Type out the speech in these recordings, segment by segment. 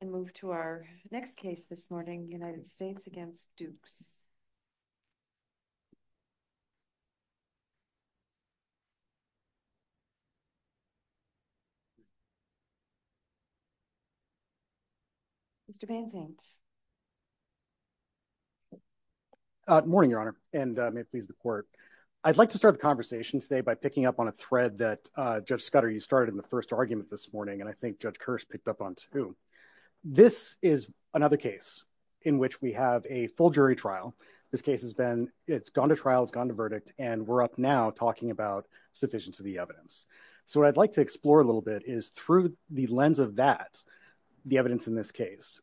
And move to our next case this morning, United States against Dukes. Mr. Bainzaint. Morning, Your Honor, and may it please the court. I'd like to start the conversation today by picking up on a thread that Judge Scudder, you started in the first argument this morning, and I think Judge Kearse picked up on too. This is another case in which we have a full jury trial. This case has been, it's gone to trial, it's gone to verdict, and we're up now talking about sufficiency of the evidence. So what I'd like to explore a little bit is through the lens of that, the evidence in this case.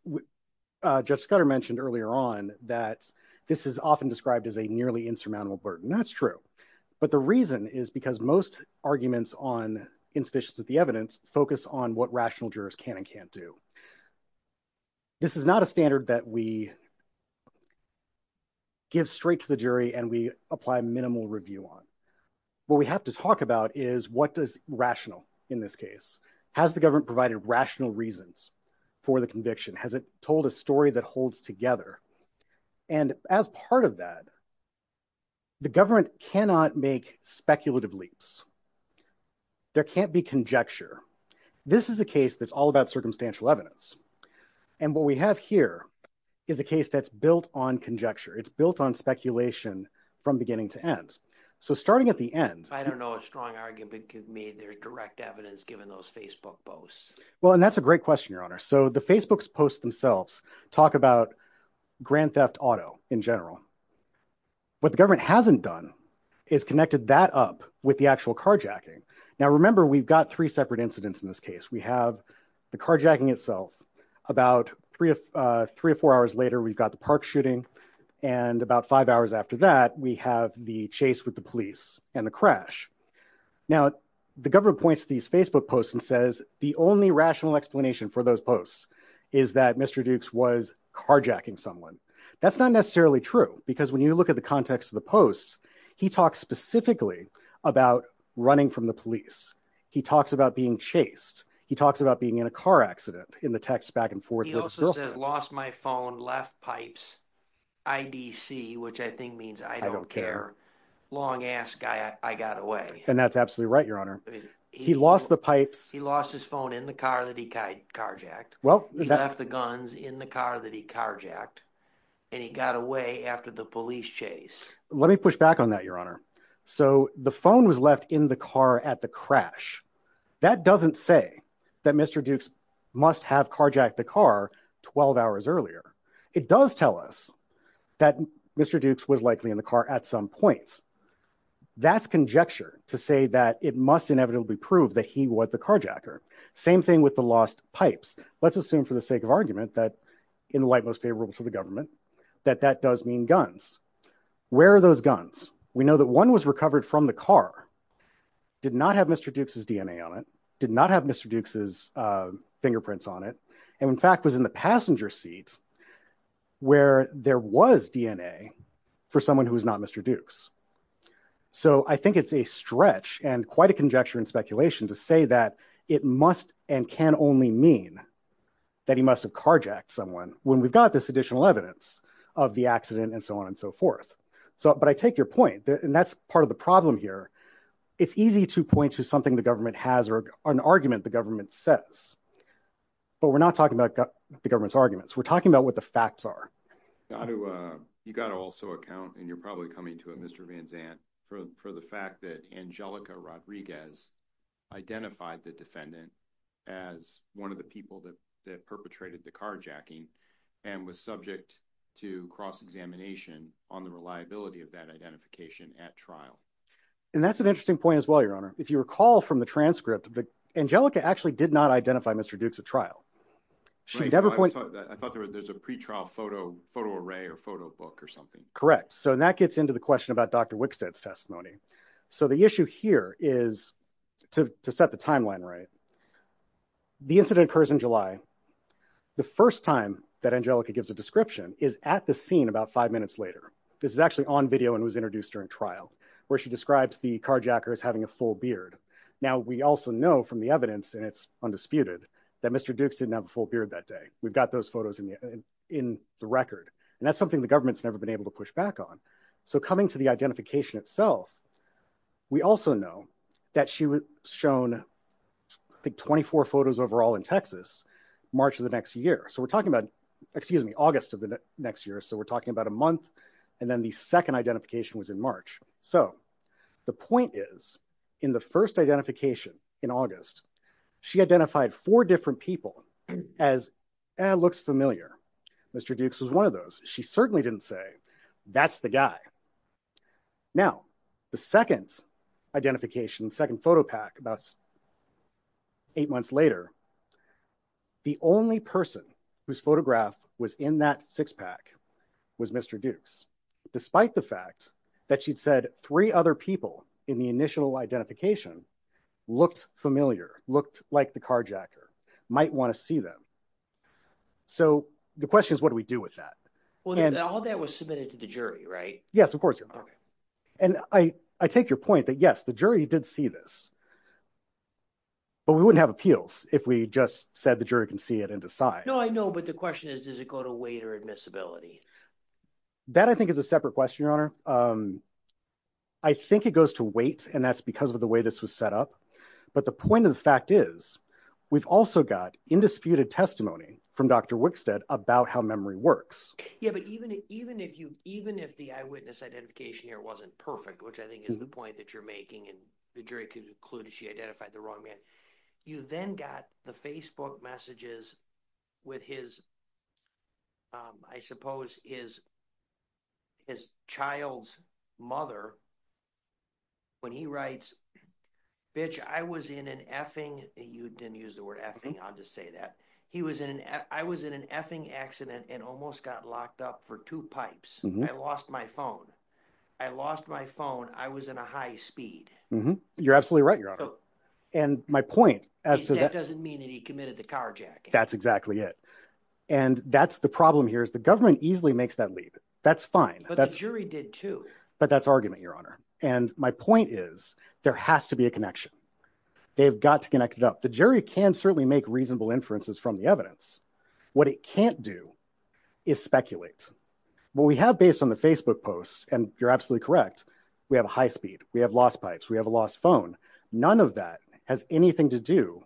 Judge Scudder mentioned earlier on that this is often described as a nearly insurmountable burden, that's true. But the reason is because most arguments on insufficiency of the evidence focus on what rational jurors can and can't do. This is not a standard that we give straight to the jury and we apply minimal review on. What we have to talk about is what does rational, in this case, has the government provided rational reasons for the conviction? Has it told a story that holds together? And as part of that, the government cannot make speculative leaps. There can't be conjecture. This is a case that's all about circumstantial evidence. And what we have here is a case that's built on conjecture. It's built on speculation from beginning to end. So starting at the end- I don't know a strong argument could be there's direct evidence given those Facebook posts. Well, and that's a great question, Your Honor. So the Facebook posts themselves talk about Grand Theft Auto in general. What the government hasn't done is connected that up with the actual case. And that's what we call carjacking. Now, remember, we've got three separate incidents in this case. We have the carjacking itself. About three or four hours later, we've got the park shooting. And about five hours after that, we have the chase with the police and the crash. Now, the government points to these Facebook posts and says the only rational explanation for those posts is that Mr. Dukes was carjacking someone. That's not necessarily true because when you look at the context of the posts, he talks specifically about running from the police. He talks about being chased. He talks about being in a car accident in the text back and forth with his girlfriend. He also says, lost my phone, left pipes, IDC, which I think means I don't care. Long ass guy, I got away. And that's absolutely right, Your Honor. He lost the pipes. He lost his phone in the car that he carjacked. Well- He left the guns in the car that he carjacked and he got away after the police chase. Let me push back on that, Your Honor. So the phone was left in the car at the crash. That doesn't say that Mr. Dukes must have carjacked the car 12 hours earlier. It does tell us that Mr. Dukes was likely in the car at some point. That's conjecture to say that it must inevitably prove that he was the carjacker. Same thing with the lost pipes. Let's assume for the sake of argument that, in the light most favorable to the government, that that does mean guns. Where are those guns? We know that one was recovered from the car, did not have Mr. Dukes' DNA on it, did not have Mr. Dukes' fingerprints on it, and in fact was in the passenger seat where there was DNA for someone who was not Mr. Dukes. So I think it's a stretch and quite a conjecture and speculation to say that it must and can only mean that he must have carjacked someone when we've got this additional evidence of the accident and so on and so forth. But I take your point, and that's part of the problem here. It's easy to point to something the government has or an argument the government says, but we're not talking about the government's arguments. We're talking about what the facts are. You gotta also account, and you're probably coming to it, Mr. Van Zandt, for the fact that Angelica Rodriguez identified the defendant as one of the people that perpetrated the carjacking and was subject to cross-examination on the reliability of that identification at trial. And that's an interesting point as well, Your Honor. If you recall from the transcript, Angelica actually did not identify Mr. Dukes at trial. She never pointed- I thought there was a pretrial photo array or photo book or something. Correct, so that gets into the question about Dr. Wickstead's testimony. So the issue here is, to set the timeline right, the incident occurs in July. The first time that Angelica gives a description is at the scene about five minutes later. This is actually on video and was introduced during trial, where she describes the carjacker as having a full beard. Now, we also know from the evidence, and it's undisputed, that Mr. Dukes didn't have a full beard that day. We've got those photos in the record. And that's something the government's never been able to push back on. So coming to the identification itself, we also know that she was shown, I think, 24 photos overall in Texas, March of the next year. So we're talking about, excuse me, August of the next year. So we're talking about a month. And then the second identification was in March. So the point is, in the first identification in August, she identified four different people as, eh, looks familiar. Mr. Dukes was one of those. She certainly didn't say, that's the guy. Now, the second identification, second photo pack about eight months later, the only person whose photograph was in that six pack was Mr. Dukes, despite the fact that she'd said three other people in the initial identification looked familiar, looked like the carjacker, might wanna see them. So the question is, what do we do with that? And- All that was submitted to the jury, right? Yes, of course, Your Honor. And I take your point that, yes, the jury did see this, but we wouldn't have appeals if we just said the jury can see it and decide. No, I know, but the question is, does it go to weight or admissibility? That I think is a separate question, Your Honor. I think it goes to weight, and that's because of the way this was set up. But the point of the fact is, we've also got indisputed testimony from Dr. Wickstead about how memory works. Yeah, but even if the eyewitness identification here wasn't perfect, which I think is the point that you're making and the jury could conclude that she identified the wrong man, you then got the Facebook messages with his, I suppose, his child's mother, when he writes, bitch, I was in an effing, you didn't use the word effing, I'll just say that. He was in an, I was in an effing accident and almost got locked up for two pipes. I lost my phone. I lost my phone. I was in a high speed. You're absolutely right, Your Honor. And my point as to that- That doesn't mean that he committed the carjacking. That's exactly it. And that's the problem here is the government easily makes that leap. That's fine. But the jury did too. But that's argument, Your Honor. And my point is, there has to be a connection. They've got to connect it up. The jury can certainly make reasonable inferences from the evidence. What it can't do is speculate. What we have based on the Facebook posts, and you're absolutely correct, we have a high speed, we have lost pipes, we have a lost phone. None of that has anything to do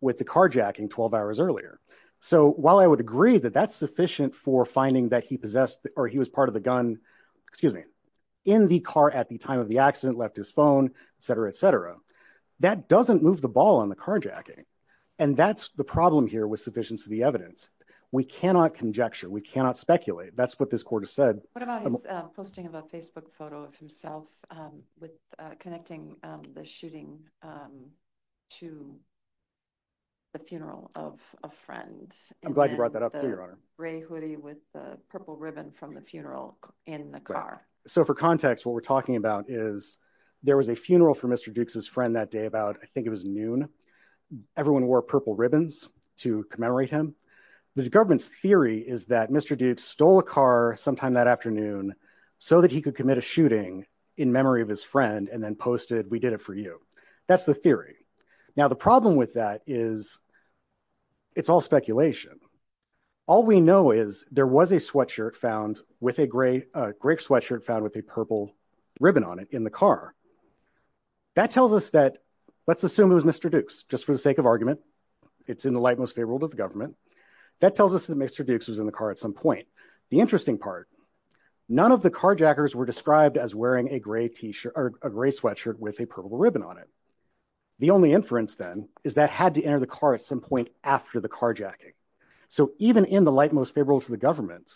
with the carjacking 12 hours earlier. So while I would agree that that's sufficient for finding that he possessed, or he was part of the gun, excuse me, in the car at the time of the accident, left his phone, et cetera, et cetera, that doesn't move the ball on the carjacking. And that's the problem here with sufficiency of the evidence. We cannot conjecture. We cannot speculate. That's what this court has said. What about his posting of a Facebook photo of himself with connecting the shooting to the funeral of a friend? I'm glad you brought that up too, Your Honor. Gray hoodie with the purple ribbon from the funeral in the car. So for context, what we're talking about is there was a funeral for Mr. Dukes's friend that day about, I think it was noon. Everyone wore purple ribbons to commemorate him. The government's theory is that Mr. Dukes stole a car sometime that afternoon so that he could commit a shooting in memory of his friend and then posted, we did it for you. That's the theory. Now, the problem with that is it's all speculation. All we know is there was a sweatshirt found with a gray sweatshirt found with a purple ribbon on it in the car. That tells us that, let's assume it was Mr. Dukes, just for the sake of argument, it's in the light most favorable to the government. That tells us that Mr. Dukes was in the car at some point. The interesting part, none of the carjackers were described as wearing a gray sweatshirt with a purple ribbon on it. The only inference then is that had to enter the car at some point after the carjacking. So even in the light most favorable to the government,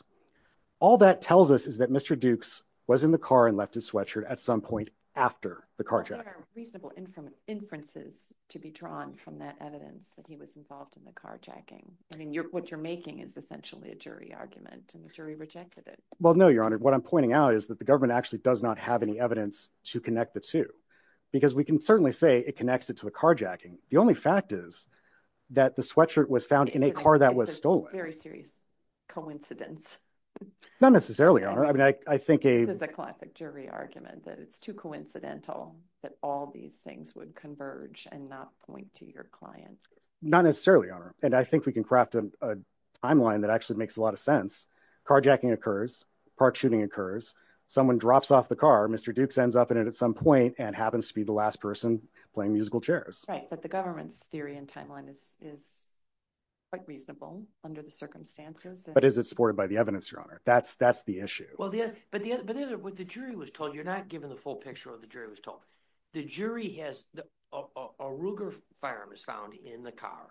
all that tells us is that Mr. Dukes was in the car and left his sweatshirt at some point after the carjacking. Reasonable inferences to be drawn from that evidence that he was involved in the carjacking. I mean, what you're making is essentially a jury argument and the jury rejected it. Well, no, Your Honor. What I'm pointing out is that the government actually does not have any evidence to connect the two. Because we can certainly say it connects it to the carjacking. The only fact is that the sweatshirt was found in a car that was stolen. Very serious coincidence. Not necessarily, Your Honor. I mean, I think a- This is a classic jury argument that it's too coincidental that all these things would converge and not point to your client. Not necessarily, Your Honor. And I think we can craft a timeline that actually makes a lot of sense. Carjacking occurs, car shooting occurs, someone drops off the car, Mr. Dukes ends up in it at some point and happens to be the last person playing musical chairs. Right, but the government's theory and timeline is quite reasonable under the circumstances. But is it supported by the evidence, Your Honor? That's the issue. Well, but the other, what the jury was told, you're not given the full picture of what the jury was told. The jury has, a Ruger firearm is found in the car.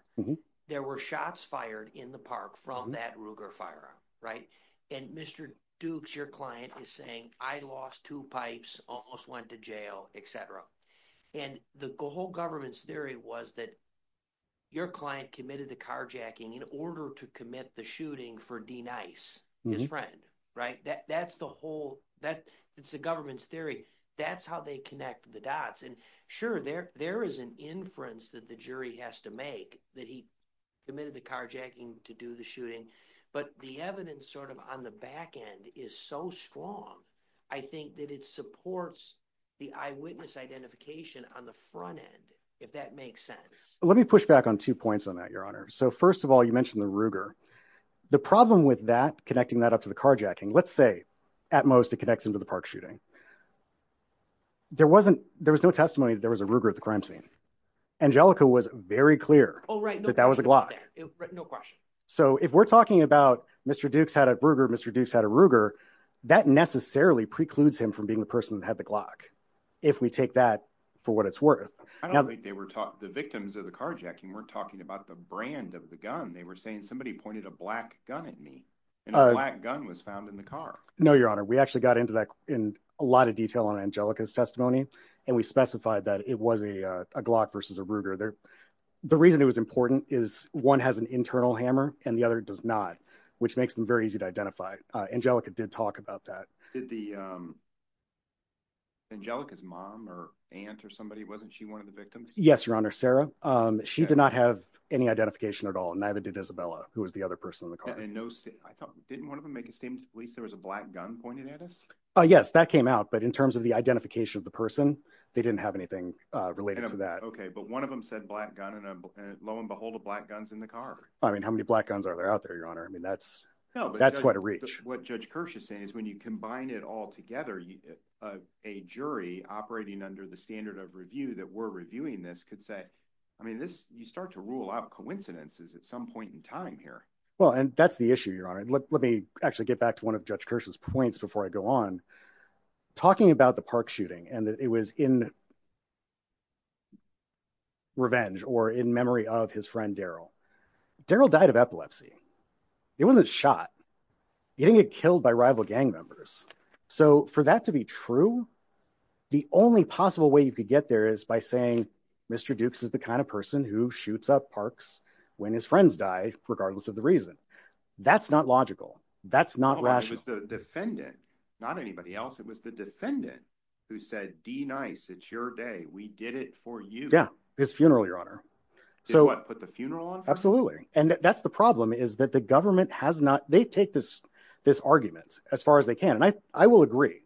There were shots fired in the park from that Ruger firearm, right? And Mr. Dukes, your client is saying, I lost two pipes, almost went to jail, et cetera. And the whole government's theory was that your client committed the carjacking in order to commit the shooting for D. Nice, his friend. Right, that's the whole, that's the government's theory. That's how they connect the dots. And sure, there is an inference that the jury has to make that he committed the carjacking to do the shooting, but the evidence sort of on the back end is so strong. I think that it supports the eyewitness identification on the front end, if that makes sense. Let me push back on two points on that, Your Honor. So first of all, you mentioned the Ruger. The problem with that, connecting that up to the carjacking, let's say at most it connects into the park shooting. There wasn't, there was no testimony that there was a Ruger at the crime scene. Angelica was very clear. That that was a Glock. No question. So if we're talking about Mr. Dukes had a Ruger, Mr. Dukes had a Ruger, that necessarily precludes him from being the person that had the Glock. If we take that for what it's worth. I don't think they were talking, the victims of the carjacking weren't talking about the brand of the gun. They were saying somebody pointed a black gun at me and a black gun was found in the car. No, Your Honor. We actually got into that in a lot of detail on Angelica's testimony. And we specified that it was a Glock versus a Ruger. The reason it was important is one has an internal hammer and the other does not, which makes them very easy to identify. Angelica did talk about that. Did the Angelica's mom or aunt or somebody, wasn't she one of the victims? Yes, Your Honor, Sarah. She did not have any identification at all. Neither did Isabella, who was the other person in the car. And in no state, I thought, didn't one of them make a statement at least there was a black gun pointed at us? Oh yes, that came out. But in terms of the identification of the person, they didn't have anything related to that. Okay, but one of them said black gun and lo and behold, a black gun's in the car. I mean, how many black guns are there out there, I mean, that's quite a reach. What Judge Kirsch is saying is when you combine it all together, a jury operating under the standard of review that we're reviewing this could say, I mean, you start to rule out coincidences at some point in time here. Well, and that's the issue, Your Honor. Let me actually get back to one of Judge Kirsch's points before I go on. Talking about the park shooting and that it was in revenge or in memory of his friend, Daryl. Daryl died of epilepsy. He wasn't shot. He didn't get killed by rival gang members. So for that to be true, the only possible way you could get there is by saying, Mr. Dukes is the kind of person who shoots up parks when his friends die, regardless of the reason. That's not logical. That's not rational. It was the defendant, not anybody else. It was the defendant who said, D-Nice, it's your day. We did it for you. Yeah, his funeral, Your Honor. So what, put the funeral on? Absolutely. And that's the problem is that the government has not, they take this argument as far as they can. And I will agree.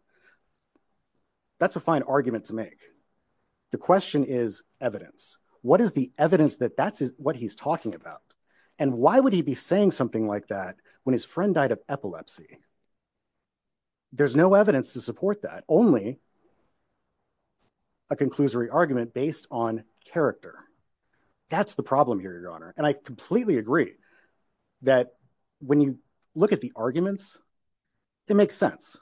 That's a fine argument to make. The question is evidence. What is the evidence that that's what he's talking about? And why would he be saying something like that when his friend died of epilepsy? There's no evidence to support that. Only a conclusory argument based on character. That's the problem here, Your Honor. And I completely agree that when you look at the arguments, it makes sense.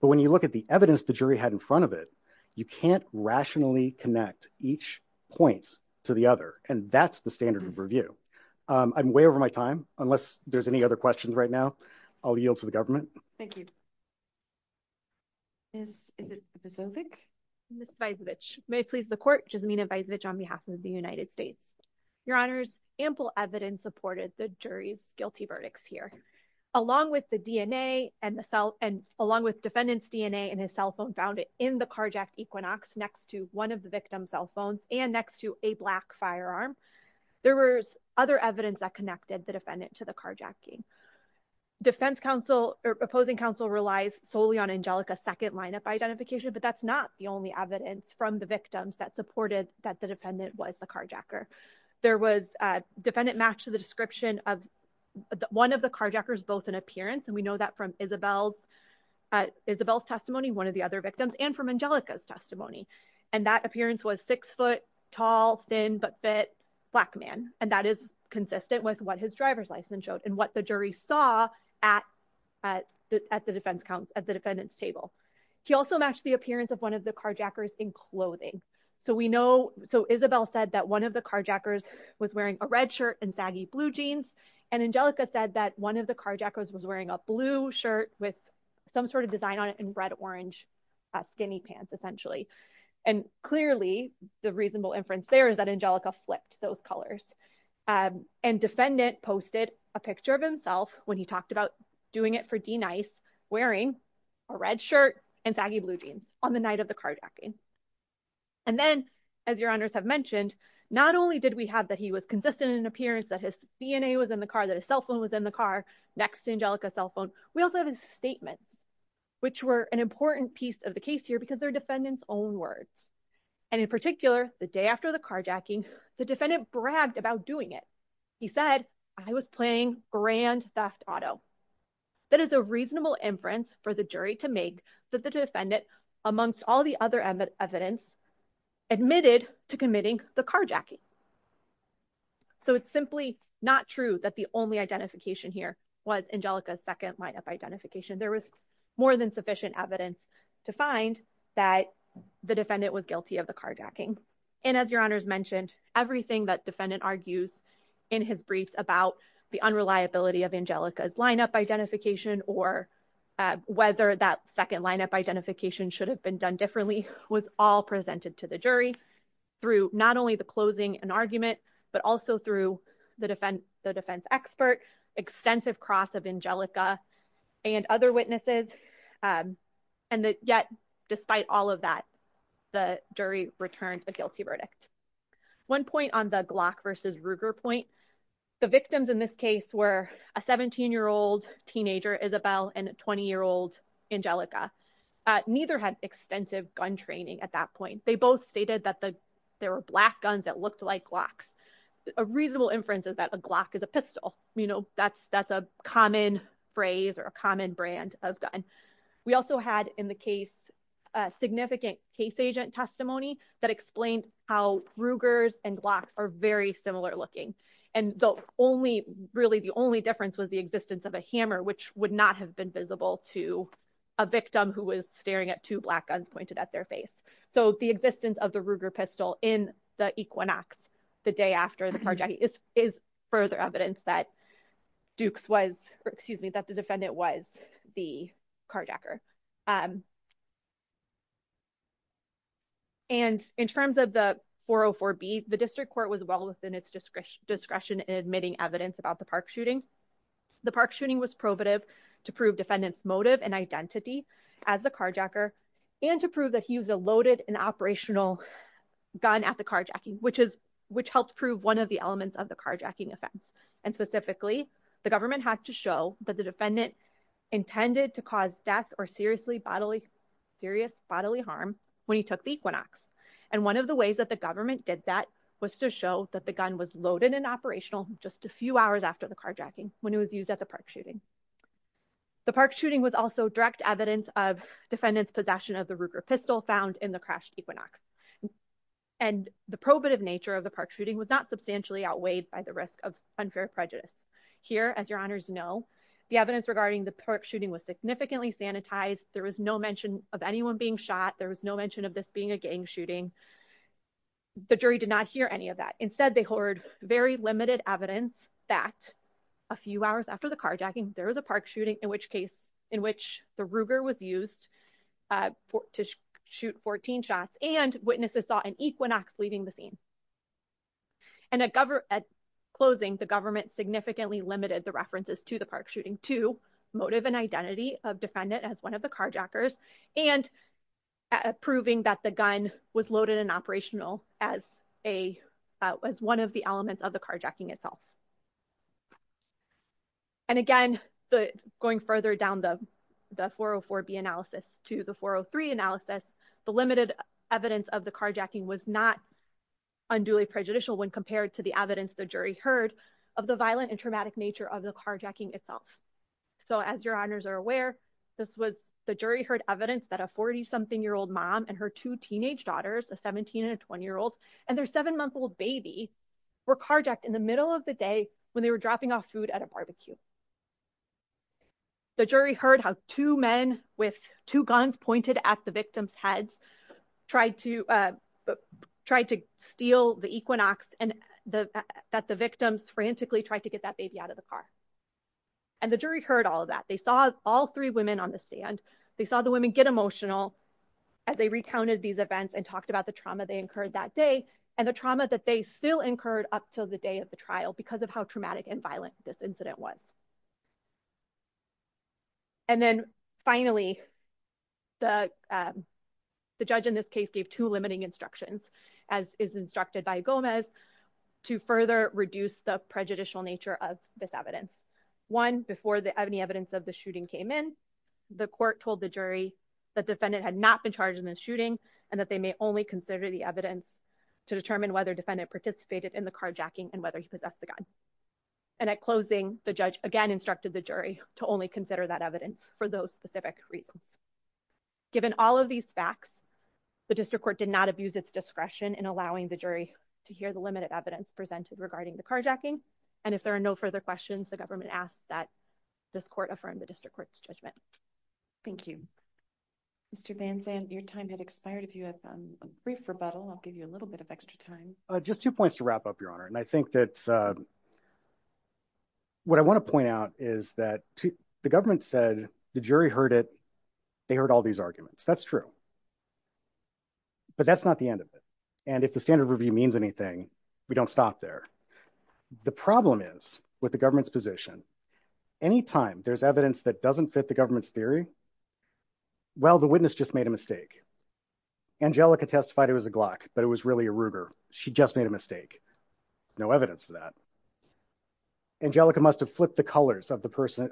But when you look at the evidence the jury had in front of it, you can't rationally connect each point to the other. And that's the standard of review. I'm way over my time, unless there's any other questions right now, I'll yield to the government. Thank you. Is it Vysovich? Ms. Vysovich, may it please the court, Jasmina Vysovich on behalf of the United States. Your Honors, ample evidence supported the jury's guilty verdicts here. Along with the DNA and the cell, and along with defendant's DNA and his cell phone found in the carjacked Equinox next to one of the victim's cell phones and next to a black firearm. There was other evidence that connected the defendant to the carjacking. Defense counsel or opposing counsel relies solely on Angelica's second lineup identification, but that's not the only evidence from the victims that supported that the defendant was the carjacker. There was a defendant matched to the description of one of the carjackers, both in appearance. And we know that from Isabel's testimony, one of the other victims and from Angelica's testimony. And that appearance was six foot tall, thin, but fit black man. And that is consistent with what his driver's license showed and what the jury saw at the defendant's table. He also matched the appearance of one of the carjackers in clothing. So we know, so Isabel said that one of the carjackers was wearing a red shirt and saggy blue jeans. And Angelica said that one of the carjackers was wearing a blue shirt with some sort of design on it and red, orange skinny pants, essentially. And clearly the reasonable inference there is that Angelica flipped those colors. And defendant posted a picture of himself when he talked about doing it for D-Nice, wearing a red shirt and saggy blue jeans on the night of the carjacking. And then, as your honors have mentioned, not only did we have that he was consistent in appearance, that his DNA was in the car, that his cell phone was in the car next to Angelica's cell phone, we also have his statement, which were an important piece of the case here because they're defendant's own words. And in particular, the day after the carjacking, the defendant bragged about doing it. He said, I was playing grand theft auto. That is a reasonable inference for the jury to make that the defendant, amongst all the other evidence, admitted to committing the carjacking. So it's simply not true that the only identification here was Angelica's second line of identification. There was more than sufficient evidence to find that the defendant was guilty of the carjacking. And as your honors mentioned, everything that defendant argues in his briefs about the unreliability of Angelica's lineup identification or whether that second lineup identification should have been done differently was all presented to the jury through not only the closing and argument, but also through the defense expert, extensive cross of Angelica and other witnesses. And yet, despite all of that, the jury returned a guilty verdict. One point on the Glock versus Ruger point, the victims in this case were a 17-year-old teenager, Isabel, and a 20-year-old, Angelica. Neither had extensive gun training at that point. They both stated that there were black guns that looked like Glocks. A reasonable inference is that a Glock is a pistol. You know, that's a common phrase or a common brand of gun. We also had in the case, a significant case agent testimony that explained how Rugers and Glocks are very similar looking. And the only, really the only difference was the existence of a hammer, which would not have been visible to a victim who was staring at two black guns pointed at their face. So the existence of the Ruger pistol in the Equinox the day after the carjacking is further evidence that Dukes was, excuse me, that the defendant was the carjacker. And in terms of the 404B, the district court was well within its discretion in admitting evidence about the park shooting. The park shooting was probative to prove defendant's motive and identity as the carjacker and to prove that he was a loaded and operational gun at the carjacking, which helped prove one of the elements of the carjacking offense. And specifically, the government had to show that the defendant intended to cause death or serious bodily harm when he took the Equinox. And one of the ways that the government did that was to show that the gun was loaded and operational just a few hours after the carjacking when it was used at the park shooting. The park shooting was also direct evidence of defendant's possession of the Ruger pistol found in the crashed Equinox. And the probative nature of the park shooting was not substantially outweighed by the risk of unfair prejudice. Here, as your honors know, the evidence regarding the park shooting was significantly sanitized. There was no mention of anyone being shot. There was no mention of this being a gang shooting. The jury did not hear any of that. Instead, they heard very limited evidence that a few hours after the carjacking, there was a park shooting in which case, in which the Ruger was used to shoot 14 shots and witnesses saw an Equinox leaving the scene. And at closing, the government significantly limited the references to the park shooting to motive and identity of defendant as one of the carjackers and proving that the gun was loaded and operational as one of the elements of the carjacking itself. And again, going further down the 404B analysis to the 403 analysis, the limited evidence of the carjacking was not unduly prejudicial when compared to the evidence the jury heard of the violent and traumatic nature of the carjacking itself. So as your honors are aware, this was the jury heard evidence that a 40-something-year-old mom and her two teenage daughters, a 17 and a 20-year-old, and their seven-month-old baby were carjacked in the middle of the day when they were dropping off food at a barbecue. The jury heard how two men with two guns pointed at the victim's heads, tried to steal the Equinox and that the victims frantically tried to get that baby out of the car. And the jury heard all of that. They saw all three women on the stand. They saw the women get emotional as they recounted these events and talked about the trauma they incurred that day and the trauma that they still incurred up till the day of the trial because of how traumatic and violent this incident was. And then finally, the judge in this case gave two limiting instructions as is instructed by Gomez to further reduce the prejudicial nature of this evidence. One, before any evidence of the shooting came in, the court told the jury that defendant had not been charged in the shooting and that they may only consider the evidence to determine whether defendant participated in the carjacking and whether he possessed the gun. And at closing, the judge again instructed the jury to only consider that evidence for those specific reasons. Given all of these facts, the district court did not abuse its discretion in allowing the jury to hear the limited evidence presented regarding the carjacking. And if there are no further questions, the government asks that this court affirm the district court's judgment. Thank you. Mr. Van Zandt, your time had expired. If you have a brief rebuttal, I'll give you a little bit of extra time. Just two points to wrap up, Your Honor. And I think that what I wanna point out is that the government said the jury heard it, they heard all these arguments. That's true. But that's not the end of it. And if the standard review means anything, we don't stop there. The problem is with the government's position, anytime there's evidence that doesn't fit the government's theory, well, the witness just made a mistake. Angelica testified it was a Glock, but it was really a Ruger. She just made a mistake. No evidence for that. Angelica must've flipped the colors of the person,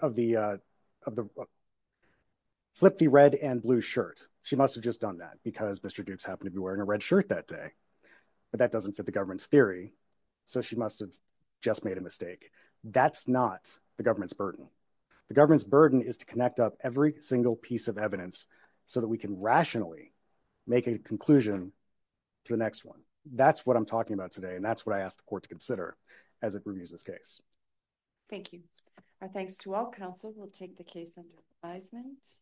flipped the red and blue shirt. She must've just done that because Mr. Duke's happened to be wearing a red shirt that day, but that doesn't fit the government's theory. So she must've just made a mistake. That's not the government's burden. The government's burden is to connect up every single piece of evidence so that we can rationally make a conclusion to the next one. That's what I'm talking about today. And that's what I asked the court to consider as it reviews this case. Thank you. Our thanks to all counsel. We'll take the case under advisement.